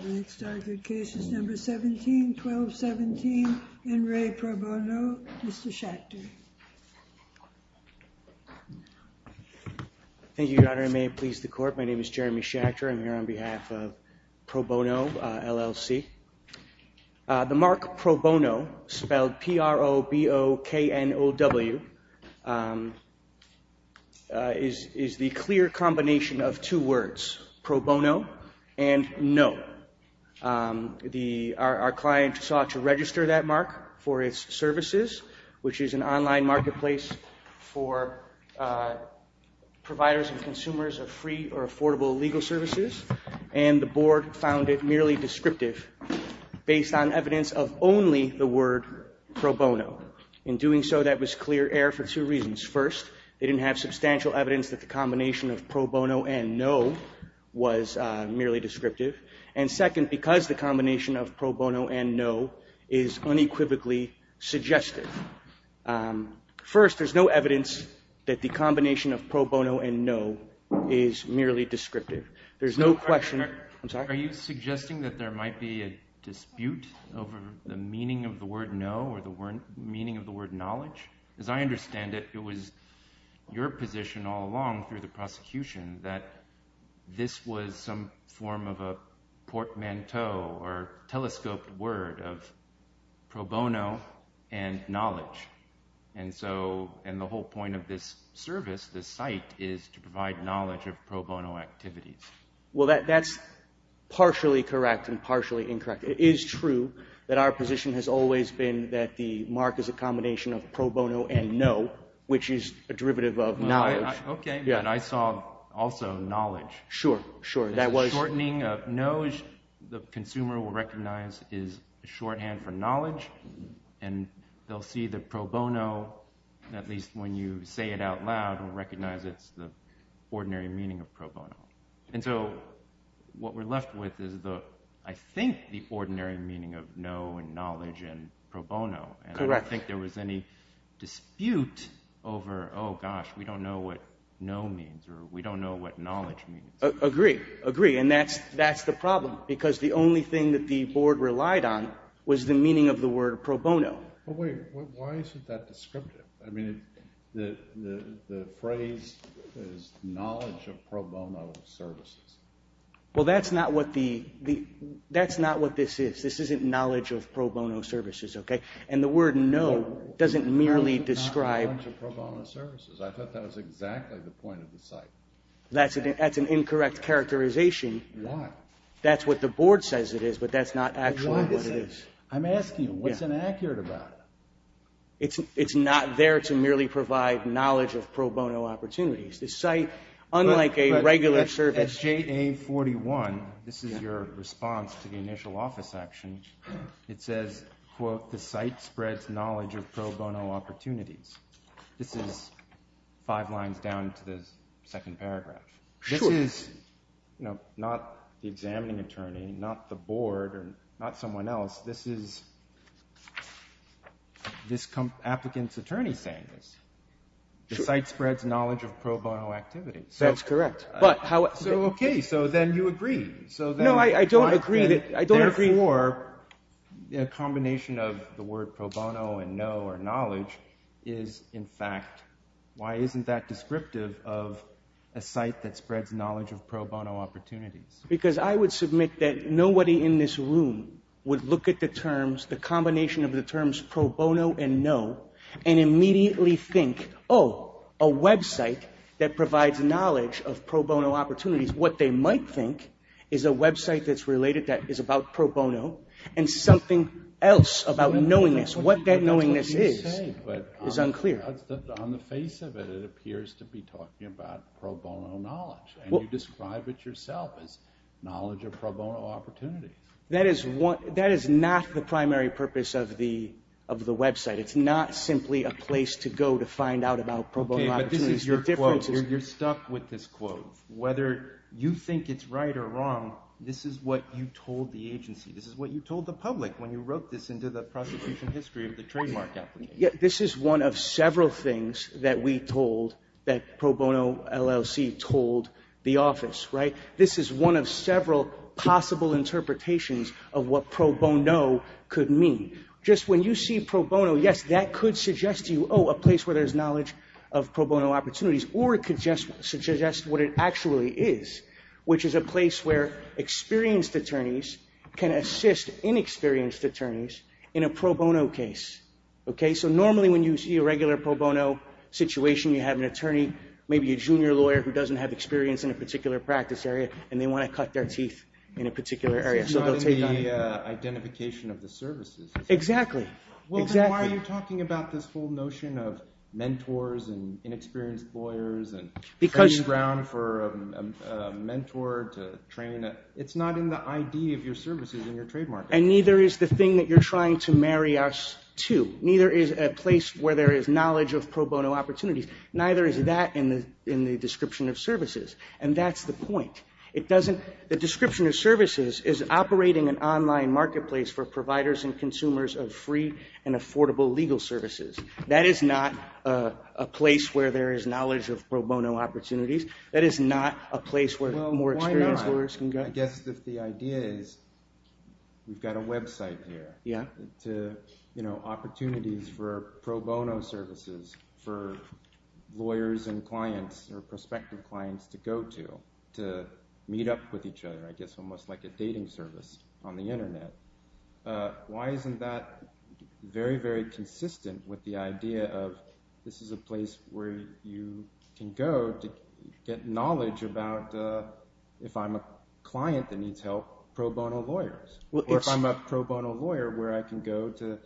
The next argued case is number 171217 N. Ray Proboknow, Mr. Schachter Thank you, Your Honor, and may it please the Court, my name is Jeremy Schachter, I'm here on behalf of Proboknow, LLC. The mark Proboknow, spelled P-R-O-B-O-K-N-O-W, is the clear combination of two words, Proboknow and no. Our client sought to register that mark for its services, which is an online marketplace for providers and consumers of free or affordable legal services, and the board found it merely descriptive based on evidence of only the word Proboknow. In doing so, that was clear air for two reasons. First, they didn't have substantial evidence that the combination of Proboknow and no was merely descriptive, and second, because the combination of Proboknow and no is unequivocally suggestive. First, there's no evidence that the combination of Proboknow and no is merely descriptive. There's no question... Are you suggesting that there might be a dispute over the meaning of the word no or the meaning of the word knowledge? As I understand it, it was your position all along through the prosecution that this was some form of a portmanteau or telescoped word of Proboknow and knowledge, and the whole point of this service, this site, is to provide knowledge of Proboknow activities. Well, that's partially correct and partially incorrect. It is true that our position has always been that the mark is a combination of Proboknow and no, which is a derivative of knowledge. Okay, but I saw also knowledge. Sure, sure. That was... Shortening of no, the consumer will recognize is a shorthand for knowledge, and they'll see that Proboknow, at least when you say it out loud, will recognize it's the ordinary meaning of Proboknow. And so, what we're left with is, I think, the ordinary meaning of no and knowledge and Proboknow. Correct. And I don't think there was any dispute over, oh gosh, we don't know what no means or we don't know what knowledge means. Agree, agree, and that's the problem, because the only thing that the board relied on was the meaning of the word Proboknow. But wait, why is it that descriptive? I mean, the phrase is knowledge of Proboknow services. Well, that's not what the... And the word no doesn't merely describe... ...knowledge of Proboknow services. I thought that was exactly the point of the site. That's an incorrect characterization. Why? That's what the board says it is, but that's not actually what it is. I'm asking, what's inaccurate about it? It's not there to merely provide knowledge of Proboknow opportunities. The site, unlike a regular service... JA-41, this is your response to the initial office action. It says, quote, the site spreads knowledge of Proboknow opportunities. This is five lines down to the second paragraph. This is, you know, not the examining attorney, not the board, or not someone else. This is this applicant's attorney saying this. The site spreads knowledge of Proboknow activities. That's correct. But how... So, okay, so then you agree. So then... No, I don't agree that... Therefore, a combination of the word Proboknow and no, or knowledge, is in fact... Why isn't that descriptive of a site that spreads knowledge of Proboknow opportunities? Because I would submit that nobody in this room would look at the terms, the combination of the terms Proboknow and no, and immediately think, oh, a website that provides knowledge of Proboknow opportunities. What they might think is a website that's related, that is about Proboknow, and something else about knowingness. What that knowingness is, is unclear. On the face of it, it appears to be talking about Proboknow knowledge, and you describe it yourself as knowledge of Proboknow opportunities. That is not the primary purpose of the website. It's not simply a place to go to find out about Proboknow opportunities. Okay, but this is your quote. You're stuck with this quote. Whether you think it's right or wrong, this is what you told the agency. This is what you told the public when you wrote this into the prosecution history of the trademark applicant. This is one of several things that we told, that Proboknow LLC told the office, right? This is one of several possible interpretations of what Proboknow could mean. Just when you see Proboknow, yes, that could suggest to you, oh, a place where there's knowledge of Proboknow opportunities, or it could just suggest what it actually is, which is a place where experienced attorneys can assist inexperienced attorneys in a Proboknow case. Okay, so normally when you see a regular Proboknow situation, you have an attorney, maybe a junior lawyer who doesn't have experience in a particular practice area, and they want to cut their teeth in a particular area. So it's not in the identification of the services. Exactly. Well, then why are you talking about this whole notion of mentors and inexperienced lawyers and training ground for a mentor to train? It's not in the ID of your services in your trademark. And neither is the thing that you're trying to marry us to. Neither is a place where there is knowledge of Proboknow opportunities. Neither is that in the description of services. And that's the point. The description of services is operating an online marketplace for providers and consumers of free and affordable legal services. That is not a place where there is knowledge of Proboknow opportunities. That is not a place where more experienced lawyers can go. If the idea is we've got a website here, opportunities for Proboknow services for lawyers and clients or prospective clients to go to, to meet up with each other, I guess almost like a dating service on the internet. Why isn't that very, very consistent with the Proboknow lawyers? Or if I'm a Proboknow lawyer, where I can go to,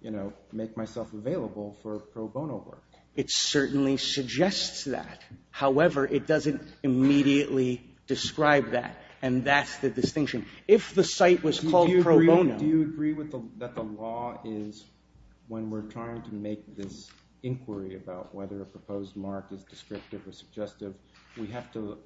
you know, make myself available for Proboknow work. It certainly suggests that. However, it doesn't immediately describe that. And that's the distinction. If the site was called Proboknow. Do you agree that the law is, when we're trying to make this inquiry about whether a proposed mark is descriptive or suggestive, we have to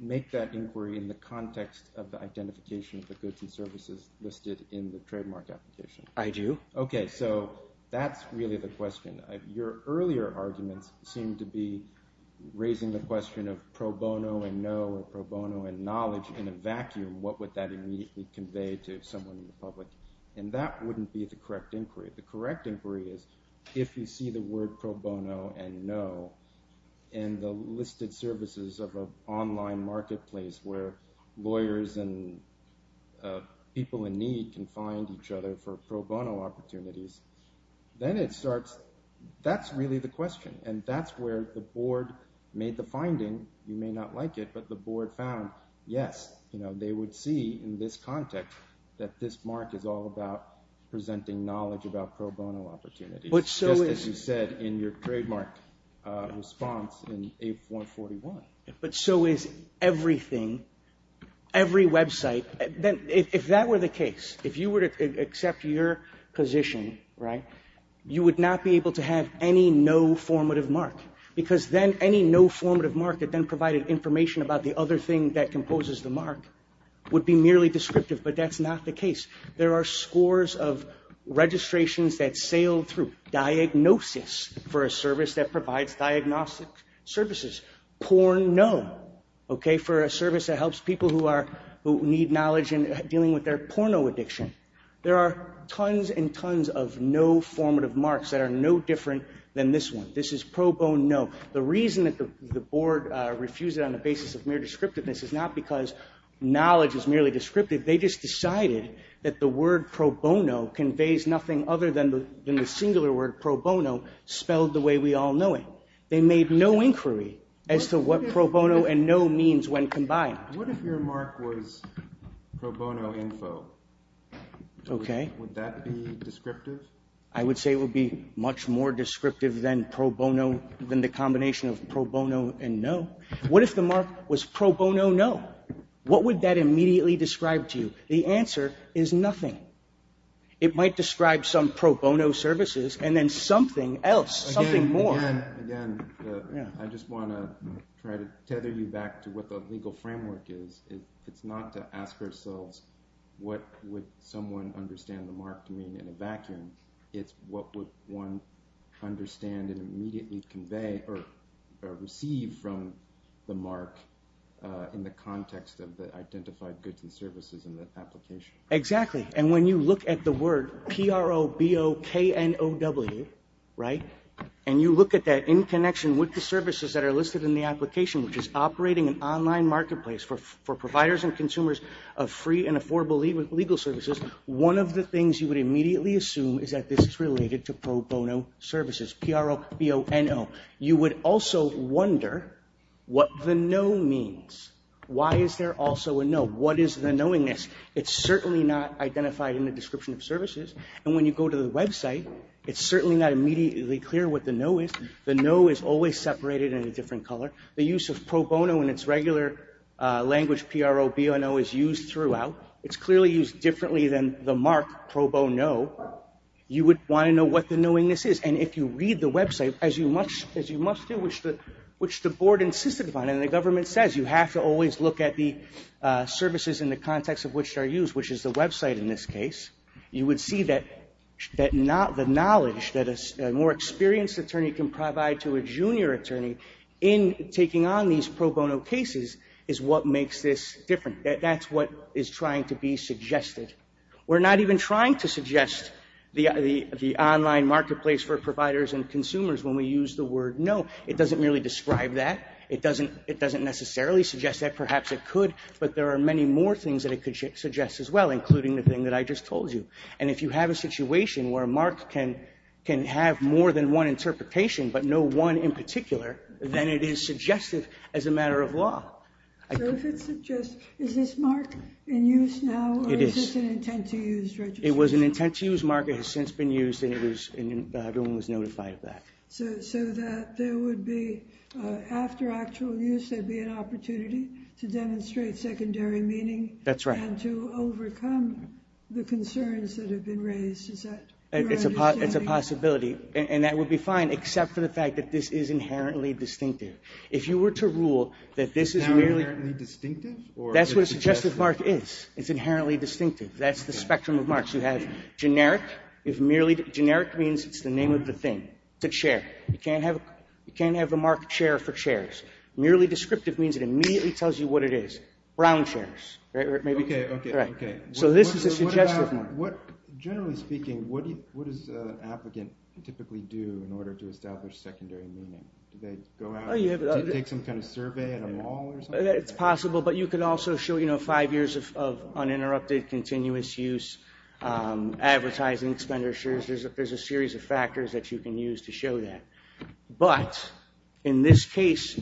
make that inquiry in the context of the identification of the goods and services listed in the trademark application? I do. Okay. So that's really the question. Your earlier arguments seem to be raising the question of Proboknow and know or Proboknow and knowledge in a vacuum. What would that immediately convey to someone in the public? And that wouldn't be the correct inquiry. The correct inquiry is if you see the word Proboknow and know, and the listed services of an online marketplace where lawyers and people in need can find each other for Proboknow opportunities, then it starts, that's really the question. And that's where the board made the finding. You may not like it, but the board found, yes, you know, they would see in this context that this mark is all about presenting knowledge about Proboknow opportunities. But so is- Response in 8.41. But so is everything, every website. If that were the case, if you were to accept your position, right, you would not be able to have any no formative mark. Because then any no formative mark that then provided information about the other thing that composes the mark would be merely descriptive. But that's not the case. There are scores of registrations that sail through. Diagnosis for a service that provides diagnostic services. Porno, okay, for a service that helps people who need knowledge in dealing with their porno addiction. There are tons and tons of no formative marks that are no different than this one. This is Proboknow. The reason that the board refused it on the basis of mere descriptiveness is not because knowledge is merely descriptive. They just decided that the word Proboknow conveys nothing other than the singular word Proboknow spelled the way we all know it. They made no inquiry as to what Proboknow and no means when combined. What if your mark was Proboknow info? Okay. Would that be descriptive? I would say it would be much more descriptive than Proboknow than the combination of Proboknow and no. What if the mark was Proboknow no? What would that immediately describe to you? The answer is nothing. It might describe some Proboknow services and then something else, something more. Again, I just want to try to tether you back to what the legal framework is. It's not to ask ourselves what would someone understand the mark to mean in a vacuum. It's what would one understand and immediately convey or receive from the mark in the context of the identified goods and services in the application. Exactly. When you look at the word Proboknow and you look at that in connection with the services that are listed in the application, which is operating an online marketplace for providers and consumers of free and affordable legal services, one of the things you would immediately assume is that this is related to pro bono services, Proboknow. You would also It's certainly not identified in the description of services. And when you go to the website, it's certainly not immediately clear what the no is. The no is always separated in a different color. The use of Proboknow in its regular language PROBNO is used throughout. It's clearly used differently than the mark Proboknow. You would want to know what the knowingness is. And if you read the website, as you must do, which the board insisted upon and the government says, you have to always look at the services in the context of which they're used, which is the website in this case, you would see that the knowledge that a more experienced attorney can provide to a junior attorney in taking on these pro bono cases is what makes this different. That's what is trying to be suggested. We're not even trying to suggest the online marketplace for providers and consumers when we use the word no. It doesn't really describe that. It doesn't necessarily suggest that. Perhaps it could, but there are many more things that it could suggest as well, including the thing that I just told you. And if you have a situation where a mark can have more than one interpretation, but no one in particular, then it is suggestive as a matter of law. So if it suggests, is this mark in use now, or is this an intent to use registration? It was an intent to use mark. It has since been used and everyone was notified of that. So that there would be, after actual use, there'd be an opportunity to demonstrate secondary meaning. That's right. And to overcome the concerns that have been raised. It's a possibility, and that would be fine, except for the fact that this is inherently distinctive. If you were to rule that this is merely... Inherently distinctive? That's what a suggestive mark is. It's inherently distinctive. That's the spectrum of marks. You can't have a marked chair for chairs. Merely descriptive means it immediately tells you what it is. Brown chairs. So this is a suggestive mark. Generally speaking, what does an applicant typically do in order to establish secondary meaning? Do they go out and take some kind of survey at a mall or something? It's possible, but you can also show five years of uninterrupted, continuous use, advertising expenditures. There's a series of factors that you can use to show that. But, in this case,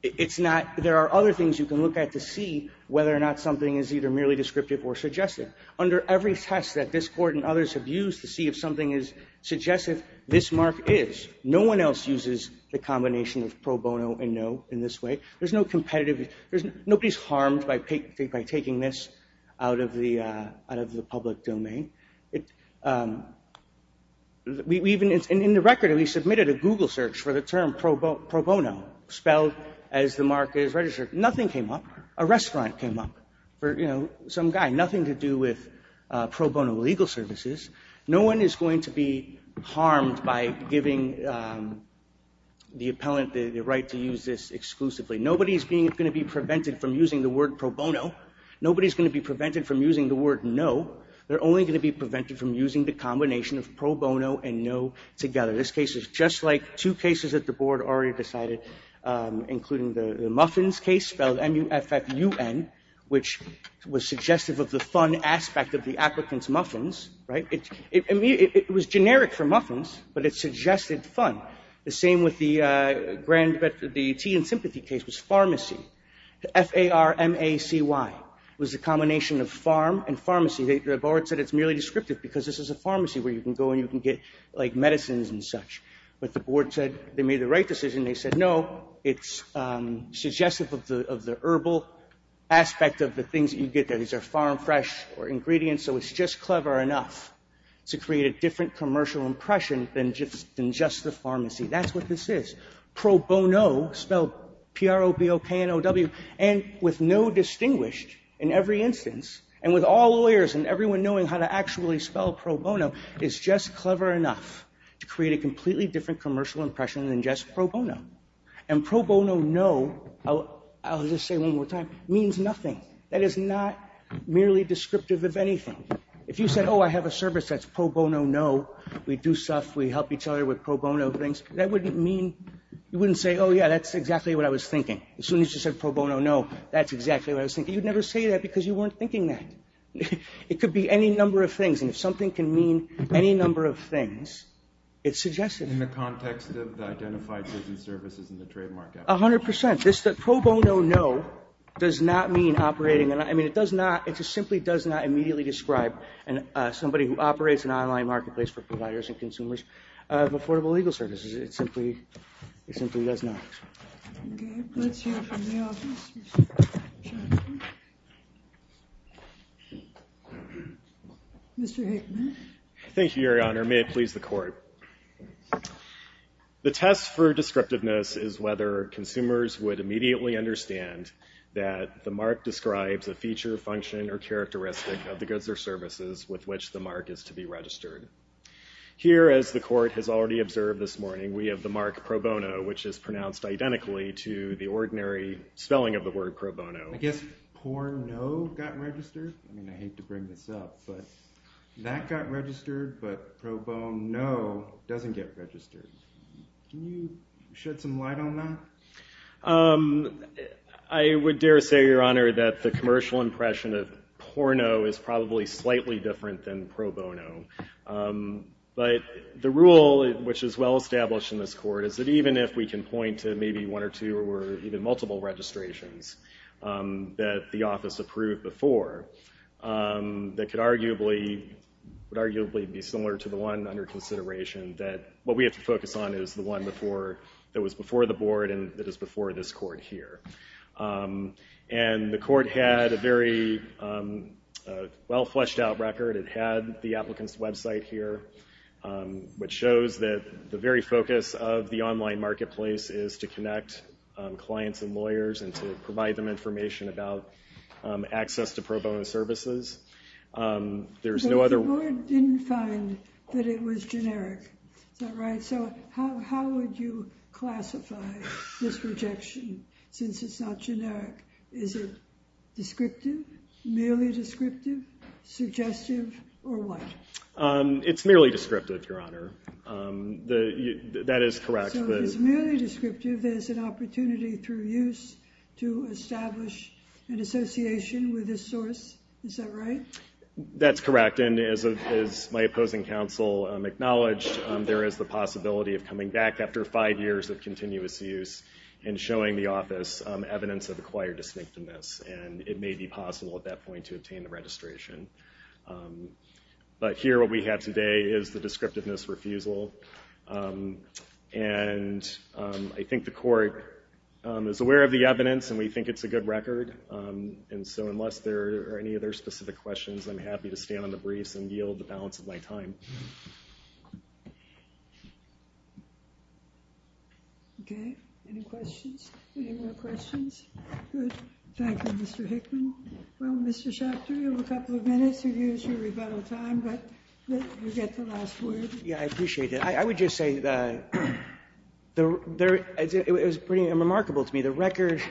there are other things you can look at to see whether or not something is either merely descriptive or suggestive. Under every test that this court and others have used to see if something is suggestive, this mark is. No one else uses the combination of pro bono and in this way. There's no competitive... Nobody's harmed by taking this out of the public domain. In the record, we submitted a Google search for the term pro bono spelled as the mark is registered. Nothing came up. A restaurant came up for some guy. Nothing to do with pro bono legal services. No one is going to be harmed by giving the appellant the right to use this exclusively. Nobody's going to be prevented from using the word pro bono. Nobody's going to be prevented from using the word no. They're only going to be prevented from using the combination of pro bono and no together. This case is just like two cases that the board already decided, including the Muffins case spelled M-U-F-F-U-N, which was suggestive of the fun aspect of the applicant's It was generic for muffins, but it suggested fun. The same with the tea and sympathy case was pharmacy. F-A-R-M-A-C-Y was the combination of farm and pharmacy. The board said it's merely descriptive because this is a pharmacy where you can go and you can get like medicines and such. But the board said they made the right decision. They said no, it's suggestive of the herbal aspect of the things that you get there. These are farm fresh ingredients, so it's just clever enough to create a different commercial impression than just the pharmacy. That's what this is. Pro bono, spelled P-R-O-B-O-K-N-O-W, and with no distinguished in every instance, and with all lawyers and everyone knowing how to actually spell pro bono, is just clever enough to create a completely different commercial impression than just pro bono. And pro bono no, I'll just say one more time, means nothing. That is not merely descriptive of anything. If you said, oh, I have a service that's pro bono no, we do stuff, we help each other with pro bono things, that wouldn't mean, you wouldn't say, oh yeah, that's exactly what I was thinking. As soon as you said pro bono no, that's exactly what I was thinking. You'd never say that because you weren't thinking that. It could be any number of things, and if something can mean any number of things, it's suggestive. In the context of the identified goods and services in the trademark. A hundred percent. This pro bono no does not mean operating, and I mean it does not, it just simply does not immediately describe somebody who operates an online marketplace for providers and consumers of affordable legal services. It simply, it simply does not. Mr. Hickman. Thank you, Your Honor. May it please the Court. The test for descriptiveness is whether consumers would immediately understand that the mark describes a feature, function, or characteristic of the goods or services with which the mark is to be registered. Here, as the Court has already observed this morning, we have the mark pro bono, which is pronounced identically to the ordinary spelling of the word pro bono. I guess porno got doesn't get registered. Can you shed some light on that? I would dare say, Your Honor, that the commercial impression of porno is probably slightly different than pro bono, but the rule which is well established in this Court is that even if we can point to maybe one or two or even multiple registrations that the office approved before, that could arguably, would arguably be similar to the one under consideration that what we have to focus on is the one before, that was before the Board and that is before this Court here. And the Court had a very well-fleshed-out record. It had the applicant's website here, which shows that the very focus of the online marketplace is to connect clients and lawyers and to provide them information about access to pro bono services. But the Board didn't find that it was generic, is that right? So how would you classify this rejection since it's not generic? Is it descriptive, merely descriptive, suggestive, or what? It's merely descriptive, Your Honor. That is correct. So it's merely descriptive, there's an opportunity through use to establish an association with this source, is that right? That's correct, and as my opposing counsel acknowledged, there is the possibility of coming back after five years of continuous use and showing the office evidence of acquired distinctiveness, and it may be possible at that point to obtain the registration. But here what we have today is the descriptiveness refusal, and I think the Court is aware of the evidence and we think it's a good record, and so unless there are any other specific questions, I'm happy to stand on the briefs and yield the balance of my time. Okay, any questions? Any more questions? Good. Thank you, Mr. Hickman. Well, Mr. Schachter, you have a couple of minutes to use your rebuttal time, but you get the last word. Yeah, I appreciate it. I would just say that it was pretty remarkable to me. The record,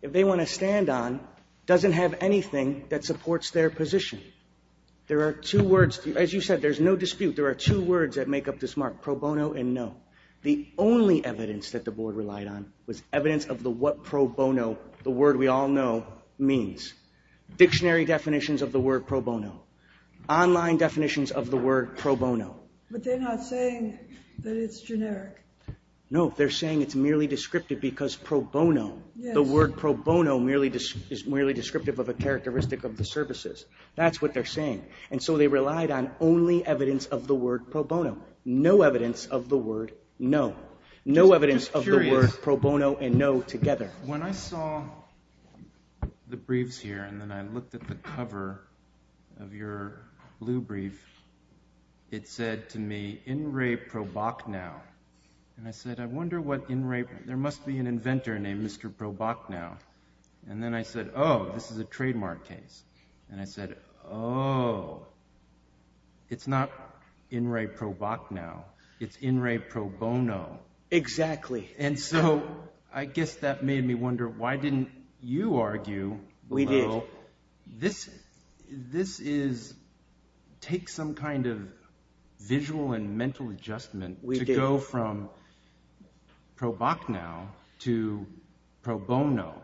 if they want to stand on, doesn't have anything that supports their position. There are two words, as you said, there's no dispute, there are two words that make up this mark, pro bono and no. The only evidence that the Board relied on was evidence of the what pro bono, the word we all know, means. Dictionary definitions of the word pro bono. Online definitions of the word pro bono. But they're not saying that it's generic. No, they're saying it's merely descriptive because pro bono, the word pro bono is merely descriptive of a characteristic of the services. That's what they're saying. And so they relied on only evidence of the word pro bono. No evidence of the word no. No evidence of the word pro bono and no together. When I saw the briefs here and then I looked at the cover of your blue brief, it said to me, in re pro boc now. And I said, I wonder what in re, there must be an inventor named Mr. Pro Boc now. And then I said, oh, this is a trademark case. And I said, oh, it's not in re pro boc now. It's in re pro bono. Exactly. And so I guess that made me wonder, why didn't you argue? We did. This is, take some kind of visual and mental adjustment to go from pro boc now to pro bono.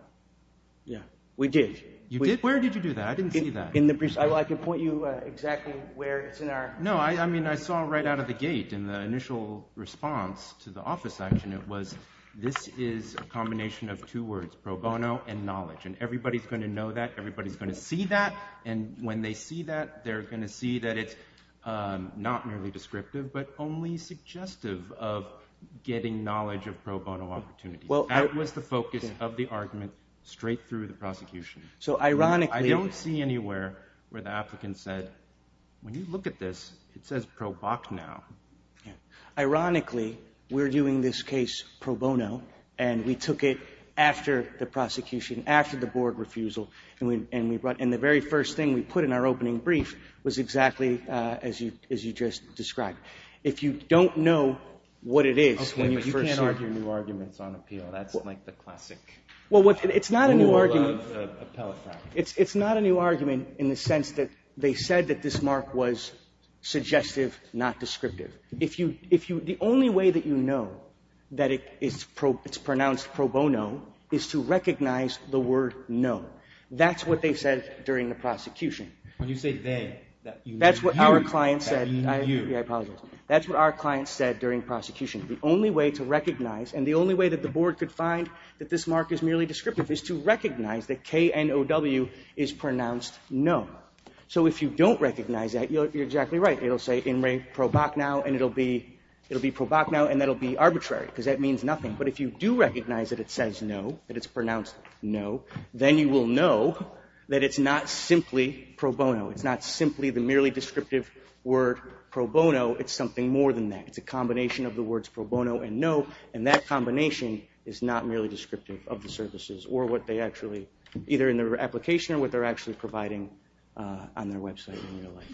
Yeah, we did. You did? Where did you do that? I didn't see that. I can point you exactly where it's in our. No, I mean, I saw right out of the gate in the initial response to the office action. It was, this is a combination of two words, pro bono and knowledge. And everybody's going to know that. Everybody's going to see that. And when they see that, they're going to see that it's not merely descriptive, but only suggestive of getting knowledge of pro bono opportunity. Well, that was the focus of the argument straight through the prosecution. I don't see anywhere where the applicant said, when you look at this, it says pro boc now. Ironically, we're doing this case pro bono, and we took it after the prosecution, after the board refusal. And the very first thing we put in our opening brief was exactly as you just described. If you don't know what it is, you can't argue new arguments on appeal. That's like the classic. Well, it's not a new argument. It's not a new argument in the sense that they said that this mark was suggestive, not descriptive. The only way that you know that it's pronounced pro bono is to recognize the word no. That's what they said during the prosecution. When you say they. That's what our client said. That's what our client said during prosecution. The only way to recognize, and the only way that the board could find that this mark is merely descriptive, is to recognize that K-N-O-W is pronounced no. So if you don't recognize that, you're exactly right. It'll say in re pro boc now, and it'll be pro boc now, and that'll be arbitrary, because that means nothing. But if you do recognize that it says no, that it's pronounced no, then you will know that it's not simply pro bono. It's not simply the words pro bono and no, and that combination is not merely descriptive of the services, or what they actually, either in their application or what they're actually providing on their website in real life.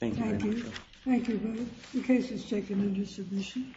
Thank you very much. Thank you. The case is taken into submission.